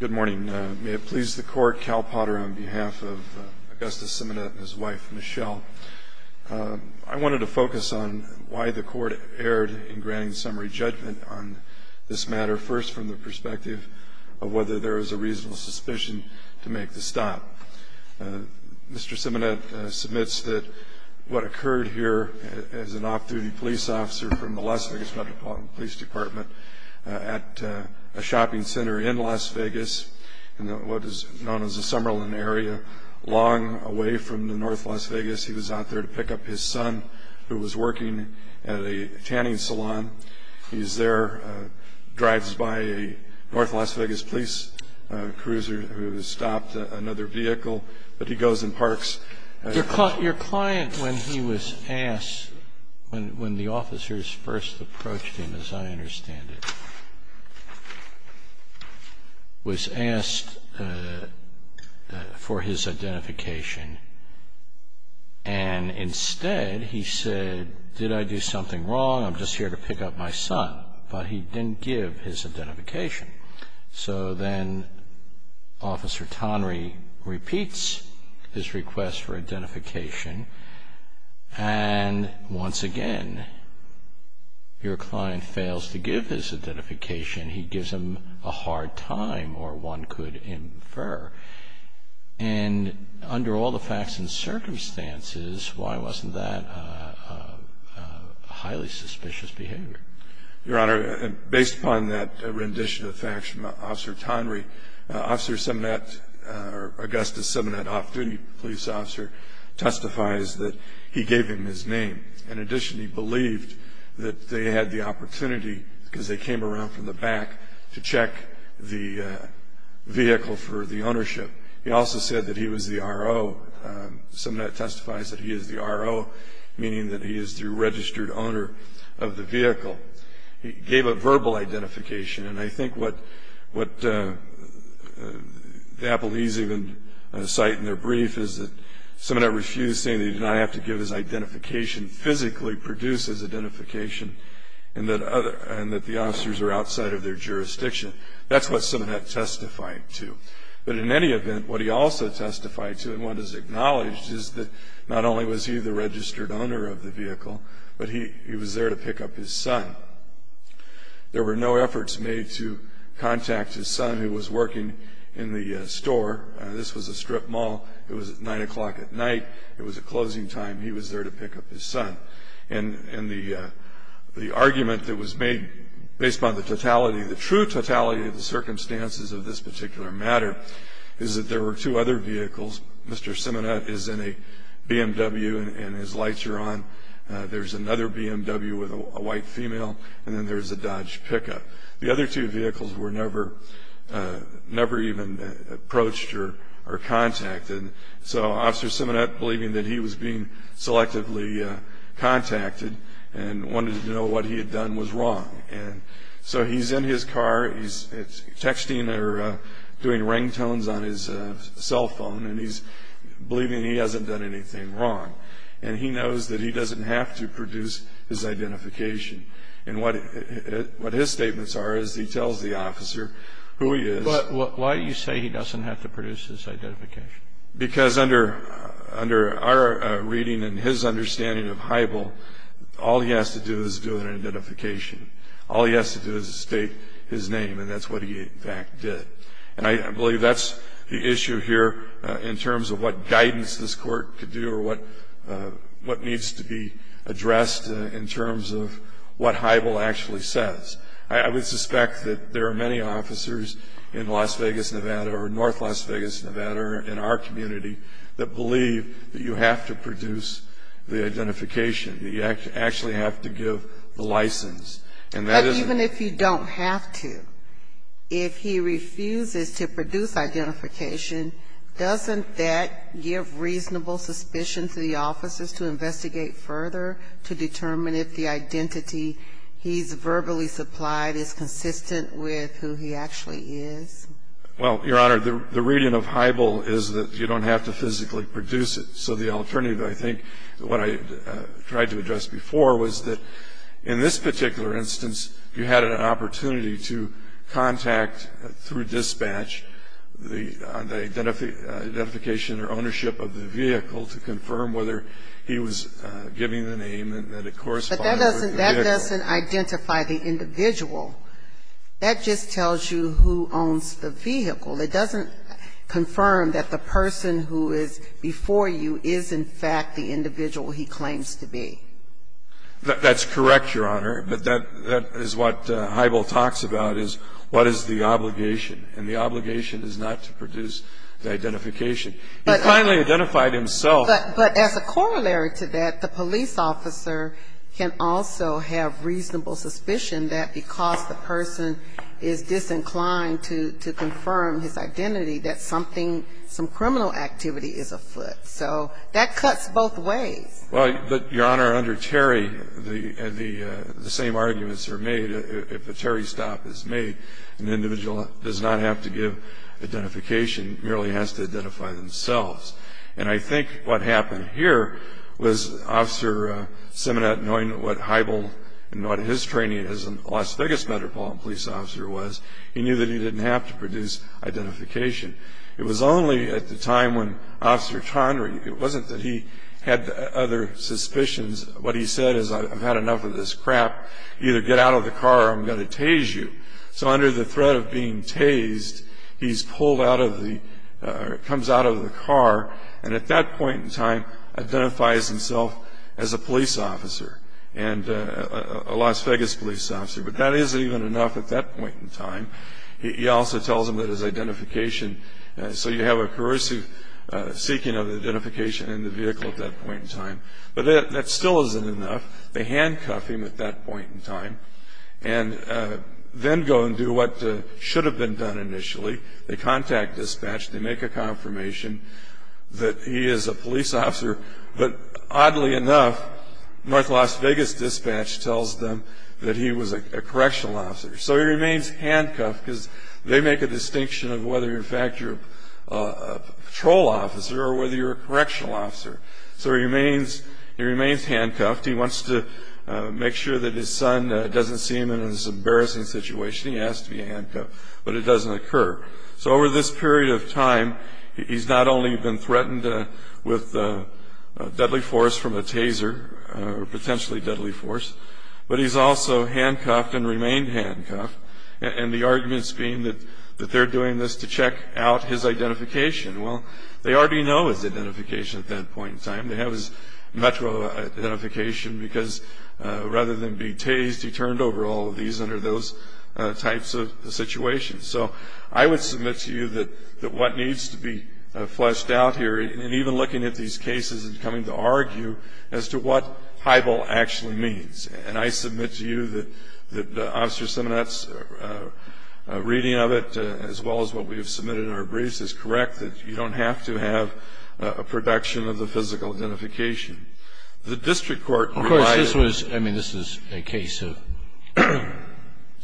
Good morning. May it please the court, Cal Potter on behalf of Augustus Simonette and his wife, Michelle. I wanted to focus on why the court erred in granting summary judgment on this matter, first from the perspective of whether there was a reasonable suspicion to make the stop. Mr. Simonette submits that what occurred here as an off-duty police officer from the Las Vegas Metropolitan Police Department at a shopping center in Las Vegas in what is known as the Summerlin area, long away from North Las Vegas. He was out there to pick up his son who was working at a tanning salon. He's there, drives by a North Las Vegas police cruiser who has stopped another vehicle, but he goes and parks. Your client, when he was asked, when the officers first approached him, as I understand it, was asked for his identification and instead he said, did I do something wrong, I'm just here to pick up my son, but he didn't give his identification. So then Officer Tonry repeats his request for identification, and once again your client fails to give his identification. He gives him a hard time, or one could infer. And under all the facts and circumstances, why wasn't that a highly suspicious behavior? Your Honor, based upon that rendition of facts from Officer Tonry, Officer Simonette, or Augustus Simonette, off-duty police officer, testifies that he gave him his name. In addition, he believed that they had the opportunity, because they came around from the back, to check the vehicle for the ownership. He also said that he was the RO. Simonette testifies that he is the RO, meaning that he is the registered owner of the vehicle. He gave a verbal identification, and I think what the Appleese even cite in their brief, is that Simonette refused saying that he did not have to give his identification, physically produce his identification, and that the officers were outside of their jurisdiction. That's what Simonette testified to. But in any event, what he also testified to, and what is acknowledged, is that not only was he the registered owner of the vehicle, but he was there to pick up his son. There were no efforts made to contact his son, who was working in the store. This was a strip mall. It was at 9 o'clock at night. It was a closing time. He was there to pick up his son. And the argument that was made based upon the totality, the circumstances of this particular matter, is that there were two other vehicles. Mr. Simonette is in a BMW, and his lights are on. There's another BMW with a white female, and then there's a Dodge pickup. The other two vehicles were never even approached or contacted. So Officer Simonette, believing that he was being selectively contacted, and wanted to know what he had done was wrong. And so he's in his car. He's texting or doing ringtones on his cell phone, and he's believing he hasn't done anything wrong. And he knows that he doesn't have to produce his identification. And what his statements are is he tells the officer who he is. But why do you say he doesn't have to produce his identification? Because under our reading and his understanding of Heibel, all he has to do is do an identification. All he has to do is state his name, and that's what he, in fact, did. And I believe that's the issue here in terms of what guidance this court could do or what needs to be addressed in terms of what Heibel actually says. I would suspect that there are many officers in Las Vegas, Nevada, or north Las Vegas, Nevada, or in our community, that believe that you have to produce the identification, that you actually have to give the license. And that is the question. But even if you don't have to, if he refuses to produce identification, doesn't that give reasonable suspicion to the officers to investigate further to determine if the identity he's verbally supplied is consistent with who he actually is? Well, Your Honor, the reading of Heibel is that you don't have to physically produce it. So the alternative, I think, what I tried to address before, was that in this particular instance you had an opportunity to contact, through dispatch, the identification or ownership of the vehicle to confirm whether he was giving the name and that it corresponded with the vehicle. But that doesn't identify the individual. That just tells you who owns the vehicle. It doesn't confirm that the person who is before you is, in fact, the individual he claims to be. That's correct, Your Honor. But that is what Heibel talks about, is what is the obligation. And the obligation is not to produce the identification. He finally identified himself. But as a corollary to that, the police officer can also have reasonable suspicion that because the person is disinclined to confirm his identity, that something, some criminal activity is afoot. So that cuts both ways. Well, but, Your Honor, under Terry, the same arguments are made. If a Terry stop is made, an individual does not have to give identification, merely has to identify themselves. And I think what happened here was Officer Simonet, knowing what Heibel and what his training as a Las Vegas Metropolitan Police Officer was, he knew that he didn't have to produce identification. It was only at the time when Officer Connery, it wasn't that he had other suspicions. What he said is, I've had enough of this crap. Either get out of the car or I'm going to tase you. So under the threat of being tased, he's pulled out of the, comes out of the car, and at that point in time identifies himself as a police officer, a Las Vegas police officer. But that isn't even enough at that point in time. He also tells him that his identification, so you have a corrosive seeking of identification in the vehicle at that point in time. But that still isn't enough. They handcuff him at that point in time and then go and do what should have been done initially. They contact dispatch. They make a confirmation that he is a police officer. But oddly enough, North Las Vegas dispatch tells them that he was a correctional officer. So he remains handcuffed because they make a distinction of whether, in fact, you're a patrol officer or whether you're a correctional officer. So he remains handcuffed. He wants to make sure that his son doesn't see him in this embarrassing situation. He asks to be handcuffed, but it doesn't occur. So over this period of time, he's not only been threatened with deadly force from a taser, potentially deadly force, but he's also handcuffed and remained handcuffed, and the arguments being that they're doing this to check out his identification. Well, they already know his identification at that point in time. They have his metro identification because rather than be tased, he turned over all of these under those types of situations. So I would submit to you that what needs to be fleshed out here, and even looking at these cases and coming to argue as to what highball actually means, and I submit to you that Officer Simonett's reading of it, as well as what we have submitted in our briefs, is correct, that you don't have to have a production of the physical identification. The district court provided ñ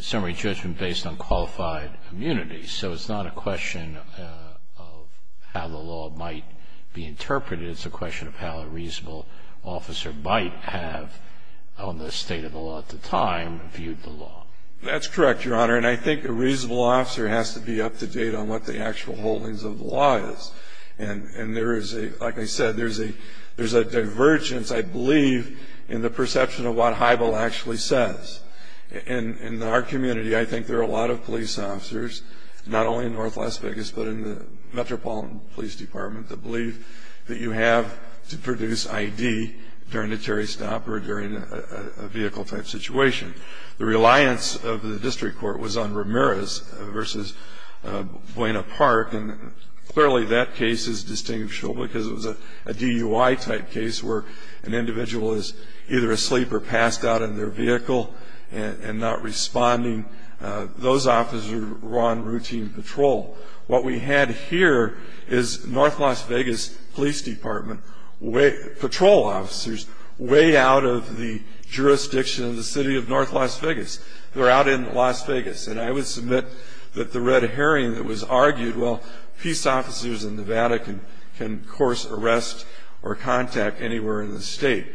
summary judgment based on qualified immunity, so it's not a question of how the law might be interpreted. It's a question of how a reasonable officer might have, on the state of the law at the time, viewed the law. That's correct, Your Honor, and I think a reasonable officer has to be up to date on what the actual holdings of the law is, and there is a, like I said, there's a divergence, I believe, in the perception of what highball actually says. In our community, I think there are a lot of police officers, not only in North Las Vegas, but in the Metropolitan Police Department, that believe that you have to produce ID during a Terry Stop or during a vehicle-type situation. The reliance of the district court was on Ramirez versus Buena Park, and clearly that case is distinctual because it was a DUI-type case where an individual is either asleep or passed out in their vehicle and not responding. Those officers were on routine patrol. What we had here is North Las Vegas Police Department patrol officers way out of the jurisdiction of the city of North Las Vegas. They're out in Las Vegas, and I would submit that the red herring that was argued, well, peace officers in Nevada can, of course, arrest or contact anywhere in the state,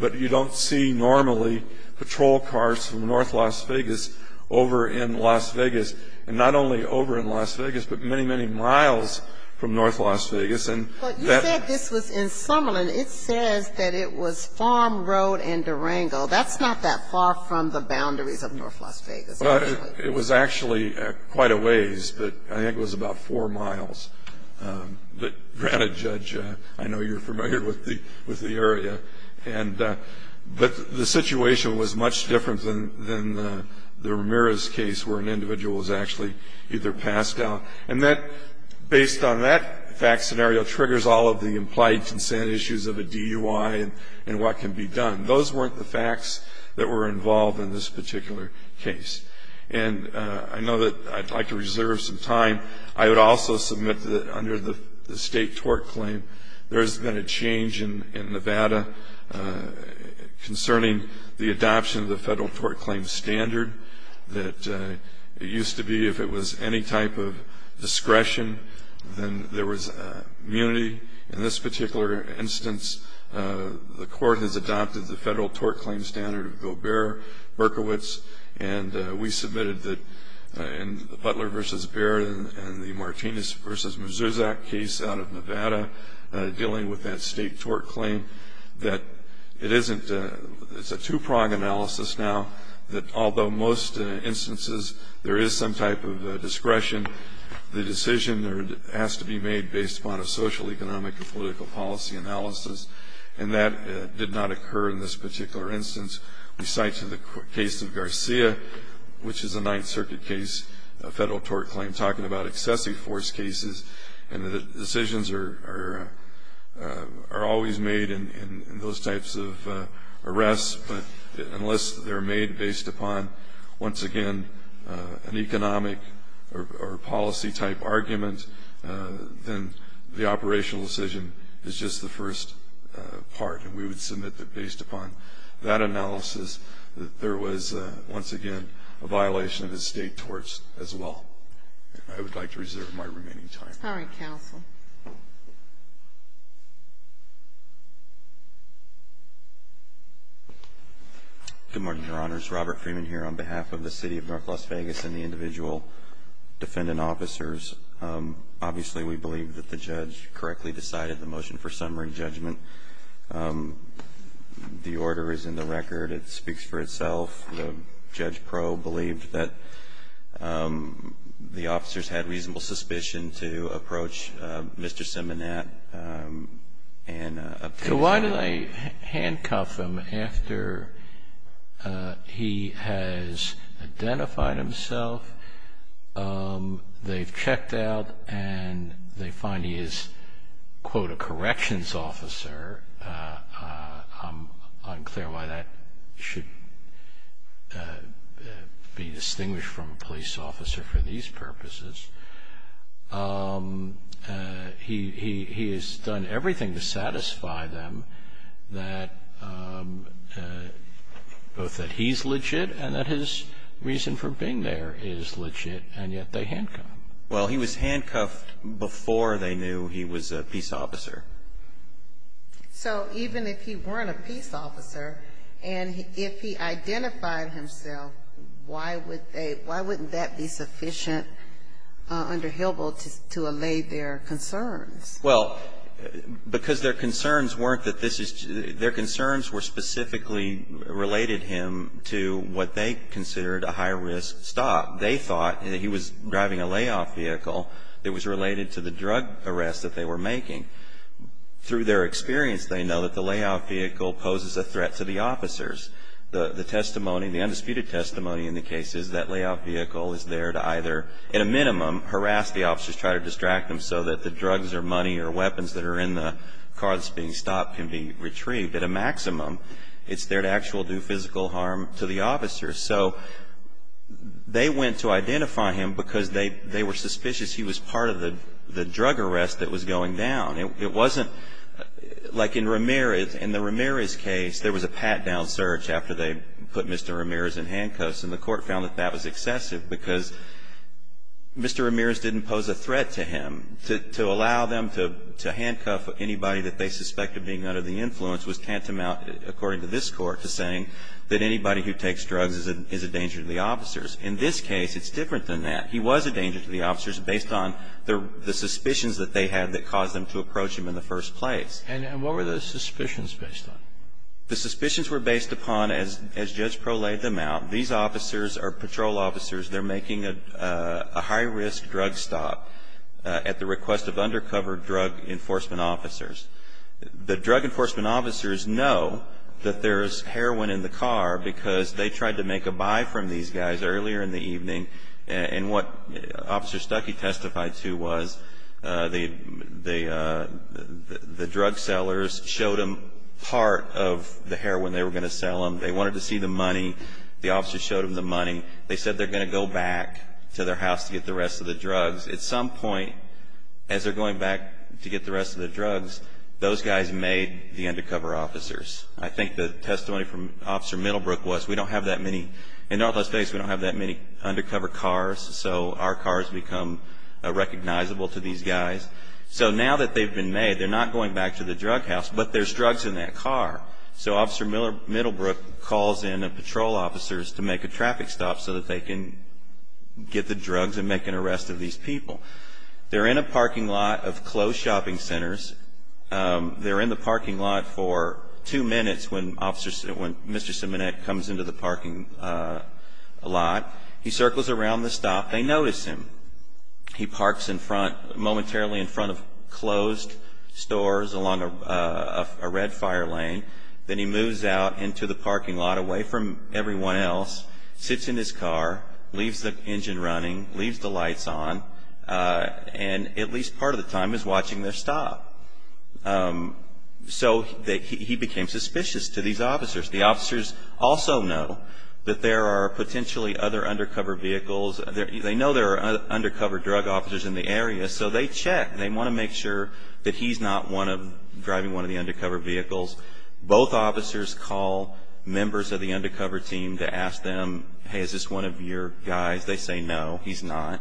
but you don't see normally patrol cars from North Las Vegas over in Las Vegas, and not only over in Las Vegas, but many, many miles from North Las Vegas. But you said this was in Summerlin. It says that it was Farm Road and Durango. That's not that far from the boundaries of North Las Vegas. Well, it was actually quite a ways, but I think it was about four miles. But granted, Judge, I know you're familiar with the area. But the situation was much different than the Ramirez case where an individual was actually either passed out. And that, based on that fact scenario, triggers all of the implied consent issues of a DUI and what can be done. Those weren't the facts that were involved in this particular case. And I know that I'd like to reserve some time. I would also submit that under the state tort claim, there has been a change in Nevada concerning the adoption of the federal tort claim standard. It used to be if it was any type of discretion, then there was immunity. In this particular instance, the court has adopted the federal tort claim standard of Gobert-Berkowitz. And we submitted that in the Butler v. Baird and the Martinez v. Muzuzak case out of Nevada, dealing with that state tort claim, that it's a two-prong analysis now that although most instances there is some type of discretion, the decision has to be made based upon a social, economic, and political policy analysis. And that did not occur in this particular instance. We cite the case of Garcia, which is a Ninth Circuit case, a federal tort claim talking about excessive force cases. And the decisions are always made in those types of arrests, but unless they're made based upon, once again, an economic or policy-type argument, then the operational decision is just the first part. And we would submit that based upon that analysis, that there was, once again, a violation of the state torts as well. I would like to reserve my remaining time. All right, counsel. Good morning, Your Honors. Robert Freeman here on behalf of the City of North Las Vegas and the individual defendant officers. Obviously, we believe that the judge correctly decided the motion for summary judgment. The order is in the record. It speaks for itself. The judge pro-believed that the officers had reasonable suspicion to approach Mr. Simonet. So why did they handcuff him after he has identified himself? They've checked out, and they find he is, quote, a corrections officer. I'm unclear why that should be distinguished from a police officer for these purposes. He has done everything to satisfy them, both that he's legit and that his reason for being there is legit, and yet they handcuff him. Well, he was handcuffed before they knew he was a peace officer. So even if he weren't a peace officer and if he identified himself, why wouldn't that be sufficient under Hillel to allay their concerns? Well, because their concerns weren't that this is to their concerns were specifically related him to what they considered a high-risk stop. They thought that he was driving a layoff vehicle that was related to the drug arrest that they were making. Through their experience, they know that the layoff vehicle poses a threat to the officers. The testimony, the undisputed testimony in the case is that layoff vehicle is there to either, in a minimum, harass the officers, try to distract them so that the drugs or money or weapons that are in the car that's being stopped can be retrieved at a maximum. It's there to actually do physical harm to the officers. So they went to identify him because they were suspicious he was part of the drug arrest that was going down. It wasn't like in Ramirez. In the Ramirez case, there was a pat-down search after they put Mr. Ramirez in handcuffs, and the court found that that was excessive because Mr. Ramirez didn't pose a threat to him. To allow them to handcuff anybody that they suspected being under the influence was tantamount, according to this Court, to saying that anybody who takes drugs is a danger to the officers. In this case, it's different than that. He was a danger to the officers based on the suspicions that they had that caused them to approach him in the first place. And what were the suspicions based on? The suspicions were based upon, as Judge Prolate them out, these officers are patrol officers. They're making a high-risk drug stop at the request of undercover drug enforcement officers. The drug enforcement officers know that there is heroin in the car because they tried to make a buy from these guys earlier in the evening. And what Officer Stuckey testified to was the drug sellers showed them part of the heroin they were going to sell them. They wanted to see the money. The officers showed them the money. They said they're going to go back to their house to get the rest of the drugs. At some point, as they're going back to get the rest of the drugs, those guys made the undercover officers. I think the testimony from Officer Middlebrook was, we don't have that many. In Northwest states, we don't have that many undercover cars, so our cars become recognizable to these guys. So now that they've been made, they're not going back to the drug house, but there's drugs in that car. So Officer Middlebrook calls in the patrol officers to make a traffic stop so that they can get the drugs and make an arrest of these people. They're in a parking lot of closed shopping centers. They're in the parking lot for two minutes when Mr. Semenek comes into the parking lot. He circles around the stop. They notice him. He parks momentarily in front of closed stores along a red fire lane. Then he moves out into the parking lot away from everyone else, sits in his car, leaves the engine running, leaves the lights on, and at least part of the time is watching their stop. So he became suspicious to these officers. The officers also know that there are potentially other undercover vehicles. They know there are undercover drug officers in the area, so they check. They want to make sure that he's not driving one of the undercover vehicles. Both officers call members of the undercover team to ask them, hey, is this one of your guys? They say no, he's not.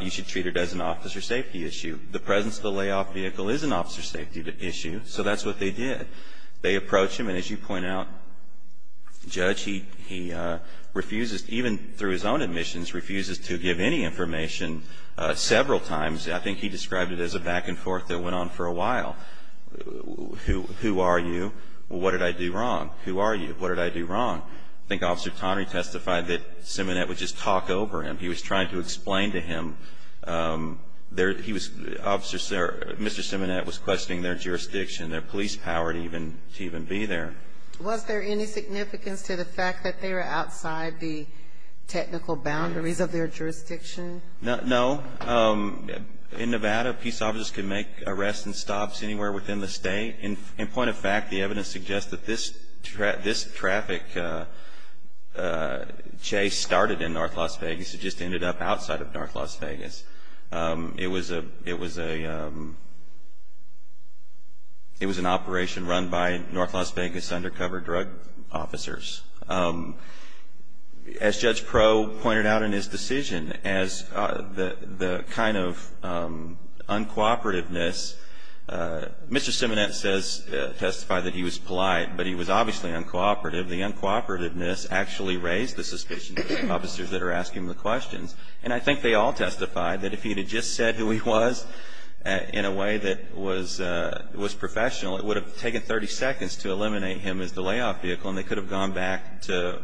You should treat it as an officer safety issue. The presence of the layoff vehicle is an officer safety issue, so that's what they did. They approached him, and as you point out, Judge, he refuses, even through his own admissions, refuses to give any information several times. I think he described it as a back and forth that went on for a while. Who are you? What did I do wrong? Who are you? What did I do wrong? I think Officer Connery testified that Simonette would just talk over him. He was trying to explain to him. He was Mr. Simonette was questioning their jurisdiction, their police power to even be there. Was there any significance to the fact that they were outside the technical boundaries of their jurisdiction? No. In Nevada, peace officers can make arrests and stops anywhere within the state. In point of fact, the evidence suggests that this traffic chase started in North Las Vegas. It just ended up outside of North Las Vegas. It was an operation run by North Las Vegas undercover drug officers. As Judge Proe pointed out in his decision, as the kind of uncooperativeness, Mr. Simonette says, testified that he was polite, but he was obviously uncooperative. The uncooperativeness actually raised the suspicion of officers that are asking the questions. And I think they all testified that if he had just said who he was in a way that was professional, it would have taken 30 seconds to eliminate him as the layoff vehicle, and they could have gone back to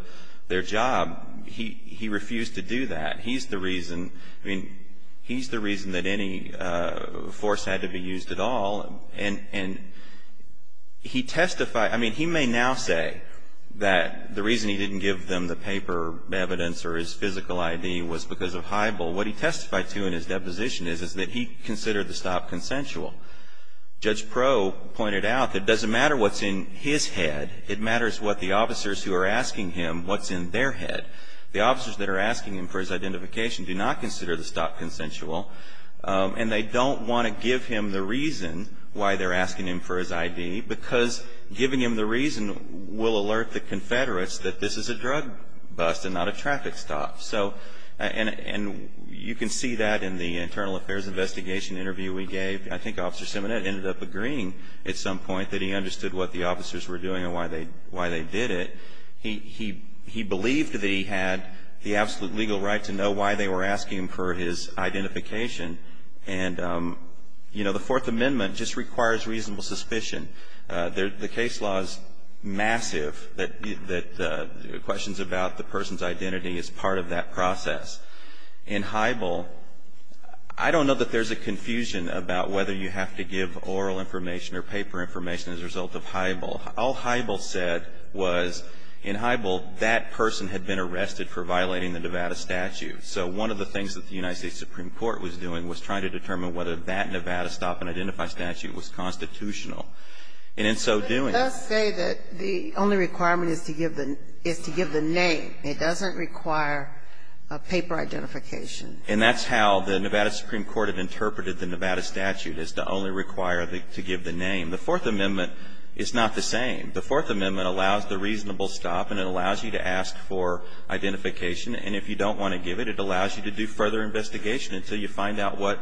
their job. He refused to do that. He's the reason that any force had to be used at all. And he testified, I mean, he may now say that the reason he didn't give them the paper evidence or his physical ID was because of high bull. What he testified to in his deposition is that he considered the stop consensual. Judge Proe pointed out that it doesn't matter what's in his head. It matters what the officers who are asking him, what's in their head. The officers that are asking him for his identification do not consider the stop consensual, and they don't want to give him the reason why they're asking him for his ID, because giving him the reason will alert the Confederates that this is a drug bust and not a traffic stop. And you can see that in the internal affairs investigation interview we gave. I think Officer Simonette ended up agreeing at some point that he understood what the officers were doing and why they did it. He believed that he had the absolute legal right to know why they were asking him for his identification. And, you know, the Fourth Amendment just requires reasonable suspicion. The case law is massive that questions about the person's identity is part of that process. In Hybel, I don't know that there's a confusion about whether you have to give oral information or paper information as a result of Hybel. All Hybel said was in Hybel that person had been arrested for violating the Nevada statute. So one of the things that the United States Supreme Court was doing was trying to determine whether that Nevada stop and identify statute was constitutional. And in so doing ---- But it does say that the only requirement is to give the name. It doesn't require a paper identification. And that's how the Nevada Supreme Court had interpreted the Nevada statute, is to only require to give the name. The Fourth Amendment is not the same. The Fourth Amendment allows the reasonable stop and it allows you to ask for identification. And if you don't want to give it, it allows you to do further investigation until you find out what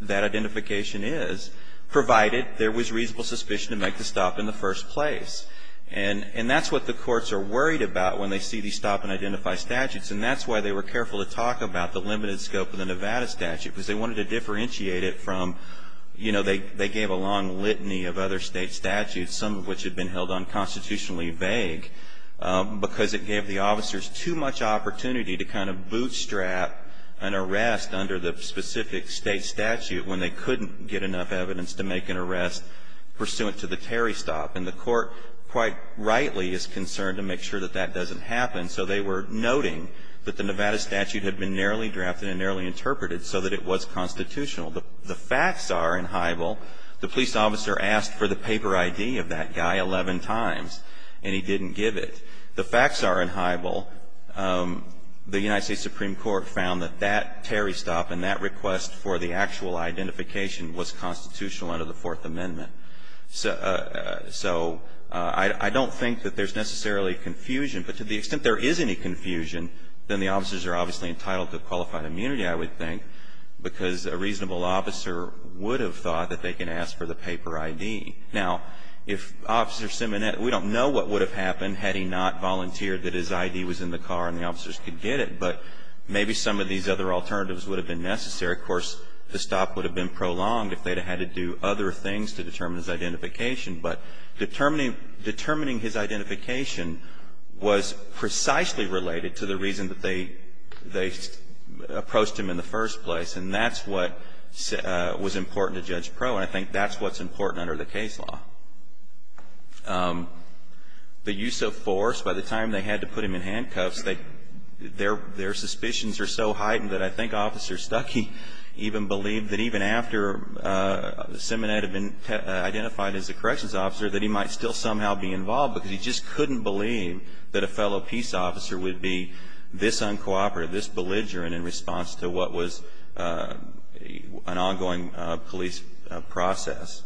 that identification is, provided there was reasonable suspicion to make the stop in the first place. And that's what the courts are worried about when they see these stop and identify statutes. And that's why they were careful to talk about the limited scope of the Nevada statute, because they wanted to differentiate it from, you know, they gave a long litany of other state statutes, some of which had been held unconstitutionally vague, because it gave the officers too much opportunity to kind of bootstrap an arrest under the specific state statute when they couldn't get enough evidence to make an arrest pursuant to the Terry stop. And the court, quite rightly, is concerned to make sure that that doesn't happen, so they were noting that the Nevada statute had been narrowly drafted and narrowly interpreted so that it was constitutional. The facts are in Hybel, the police officer asked for the paper ID of that guy 11 times, and he didn't give it. The facts are in Hybel, the United States Supreme Court found that that Terry stop and that request for the actual identification was constitutional under the Fourth Amendment. So I don't think that there's necessarily confusion, but to the extent there is any confusion, then the officers are obviously entitled to qualified immunity, I would think, because a reasonable officer would have thought that they can ask for the paper ID. Now, if Officer Simonetti, we don't know what would have happened had he not volunteered that his ID was in the car and the officers could get it, but maybe some of these other alternatives would have been necessary. Of course, the stop would have been prolonged if they had to do other things to determine his identification. But determining his identification was precisely related to the reason that they approached him in the first place, and that's what was important to Judge Proe, and I think that's what's important under the case law. The use of force, by the time they had to put him in handcuffs, their suspicions were so heightened that I think Officer Stuckey even believed that even after Simonetti had been identified as a corrections officer, that he might still somehow be involved because he just couldn't believe that a fellow peace officer would be this uncooperative, this belligerent in response to what was an ongoing police process.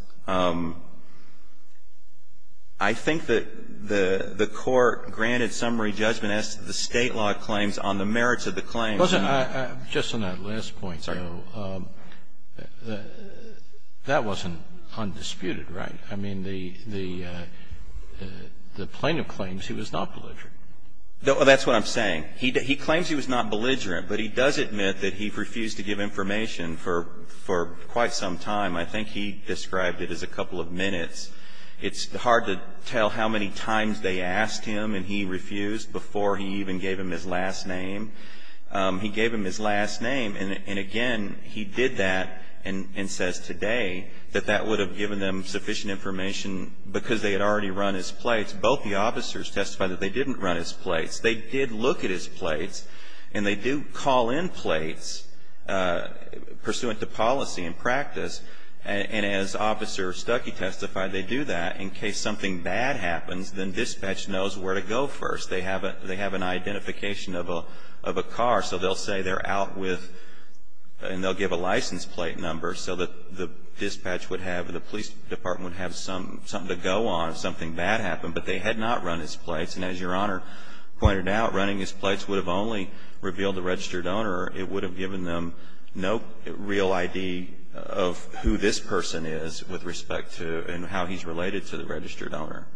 I think that the Court granted summary judgment as to the State law claims on the merits of the claims. Just on that last point, though, that wasn't undisputed, right? I mean, the plaintiff claims he was not belligerent. That's what I'm saying. He claims he was not belligerent, but he does admit that he refused to give information for quite some time. I think he described it as a couple of minutes. It's hard to tell how many times they asked him and he refused before he even gave him his last name. He gave him his last name, and again, he did that and says today that that would have given them sufficient information because they had already run his plates. Both the officers testified that they didn't run his plates. They did look at his plates, and they do call in plates pursuant to policy and practice. And as Officer Stuckey testified, they do that in case something bad happens, then dispatch knows where to go first. They have an identification of a car, so they'll say they're out with and they'll give a license plate number so that the dispatch would have and the police department would have something to go on if something bad happened. But they had not run his plates, and as Your Honor pointed out, running his plates would have only revealed the registered owner. It would have given them no real ID of who this person is with respect to and how he's related to the registered owner.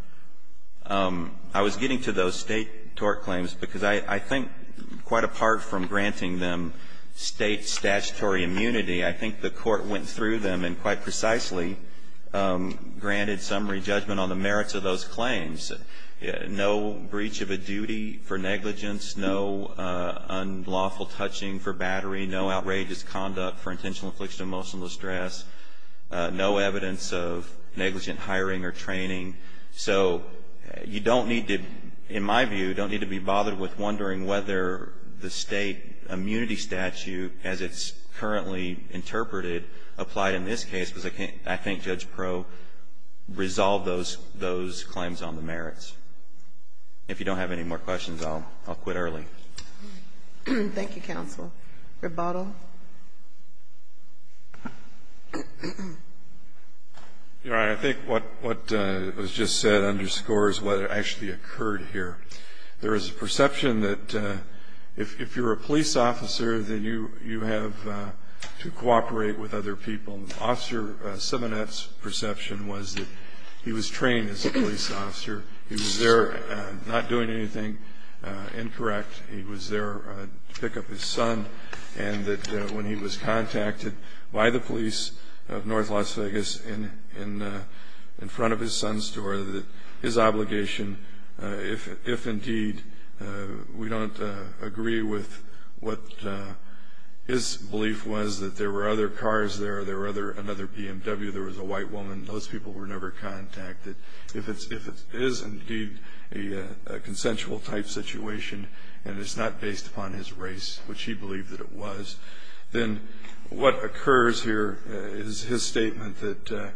I was getting to those State tort claims because I think quite apart from granting them State statutory immunity, I think the Court went through them and quite precisely granted summary judgment on the merits of those claims. No breach of a duty for negligence. No unlawful touching for battery. No outrageous conduct for intentional infliction of emotional distress. No evidence of negligent hiring or training. So you don't need to, in my view, don't need to be bothered with wondering whether the State immunity statute as it's currently interpreted applied in this case because I think Judge Proe resolved those claims on the merits. If you don't have any more questions, I'll quit early. Thank you, counsel. Rebuttal. Your Honor, I think what was just said underscores what actually occurred here. There is a perception that if you're a police officer, then you have to cooperate with other people. Officer Simonett's perception was that he was trained as a police officer. He was there not doing anything incorrect. He was there to pick up his son. And that when he was contacted by the police of North Las Vegas in front of his son's store, that his obligation, if indeed we don't agree with what his belief was that there were other cars there, there were another BMW, there was a white woman, those people were never contacted. If it is indeed a consensual type situation and it's not based upon his race, which he believed that it was, then what occurs here is his statement that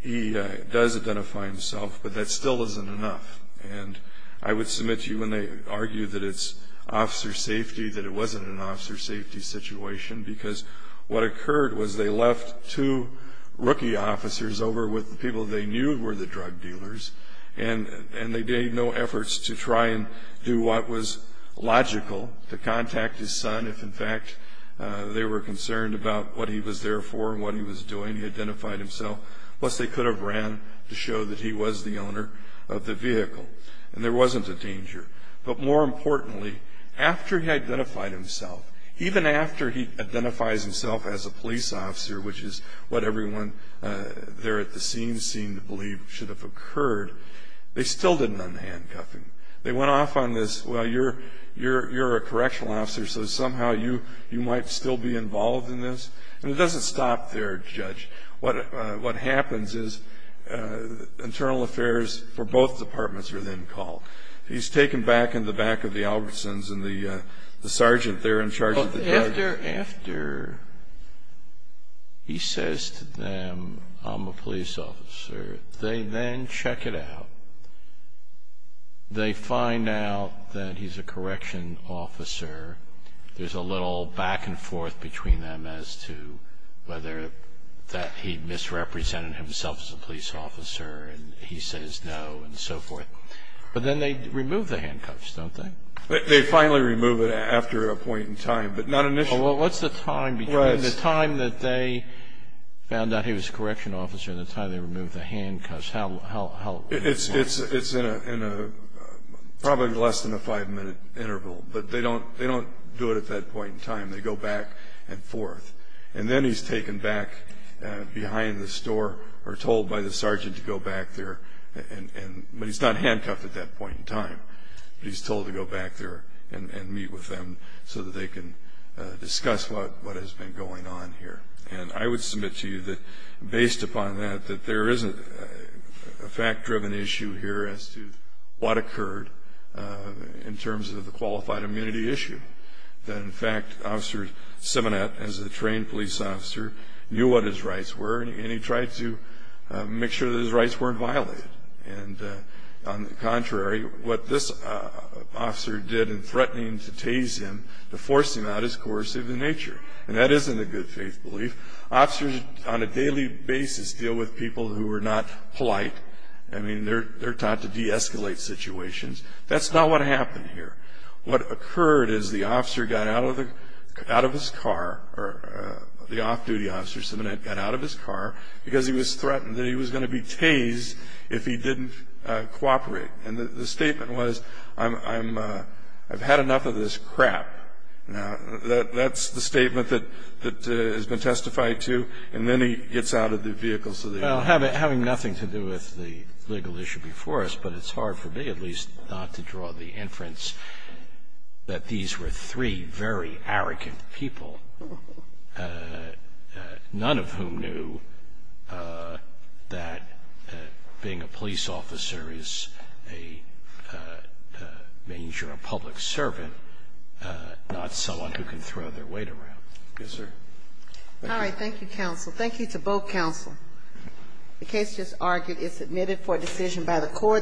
he does identify himself, but that still isn't enough. And I would submit to you when they argue that it's officer safety that it wasn't an officer safety situation because what occurred was they left two rookie officers over with the people they knew were the drug dealers, and they made no efforts to try and do what was logical, to contact his son if, in fact, they were concerned about what he was there for and what he was doing. He identified himself. Plus, they could have ran to show that he was the owner of the vehicle, and there wasn't a danger. But more importantly, after he identified himself, even after he identifies himself as a police officer, which is what everyone there at the scene seemed to believe should have occurred, they still didn't unhandcuff him. They went off on this, well, you're a correctional officer, so somehow you might still be involved in this. And it doesn't stop there, Judge. What happens is internal affairs for both departments are then called. He's taken back in the back of the Albertsons, and the sergeant there in charge of the judge. After he says to them, I'm a police officer, they then check it out. They find out that he's a correctional officer. There's a little back and forth between them as to whether that he misrepresented himself as a police officer, and he says no, and so forth. But then they remove the handcuffs, don't they? They finally remove it after a point in time, but not initially. Well, what's the time between the time that they found out he was a correctional officer and the time they removed the handcuffs? It's in a probably less than a five-minute interval, but they don't do it at that point in time. They go back and forth. And then he's taken back behind this door, or told by the sergeant to go back there. But he's not handcuffed at that point in time. But he's told to go back there and meet with them so that they can discuss what has been going on here. And I would submit to you that based upon that, that there isn't a fact-driven issue here as to what occurred in terms of the qualified immunity issue. That, in fact, Officer Simonet, as a trained police officer, knew what his rights were, and he tried to make sure that his rights weren't violated. And, on the contrary, what this officer did in threatening to tase him, to force him out, is coercive in nature. And that isn't a good faith belief. Officers on a daily basis deal with people who are not polite. I mean, they're taught to de-escalate situations. That's not what happened here. What occurred is the officer got out of his car, or the off-duty officer, Simonet, got out of his car because he was threatened that he was going to be tased if he didn't cooperate. And the statement was, I've had enough of this crap. Now, that's the statement that has been testified to. And then he gets out of the vehicle. Well, having nothing to do with the legal issue before us, but it's hard for me, at least, not to draw the inference that these were three very arrogant people, none of whom knew that being a police officer is a major public servant, not someone who can throw their weight around. Yes, sir. Thank you. All right. Thank you, counsel. Thank you to both counsel. The case just argued is submitted for decision by the court.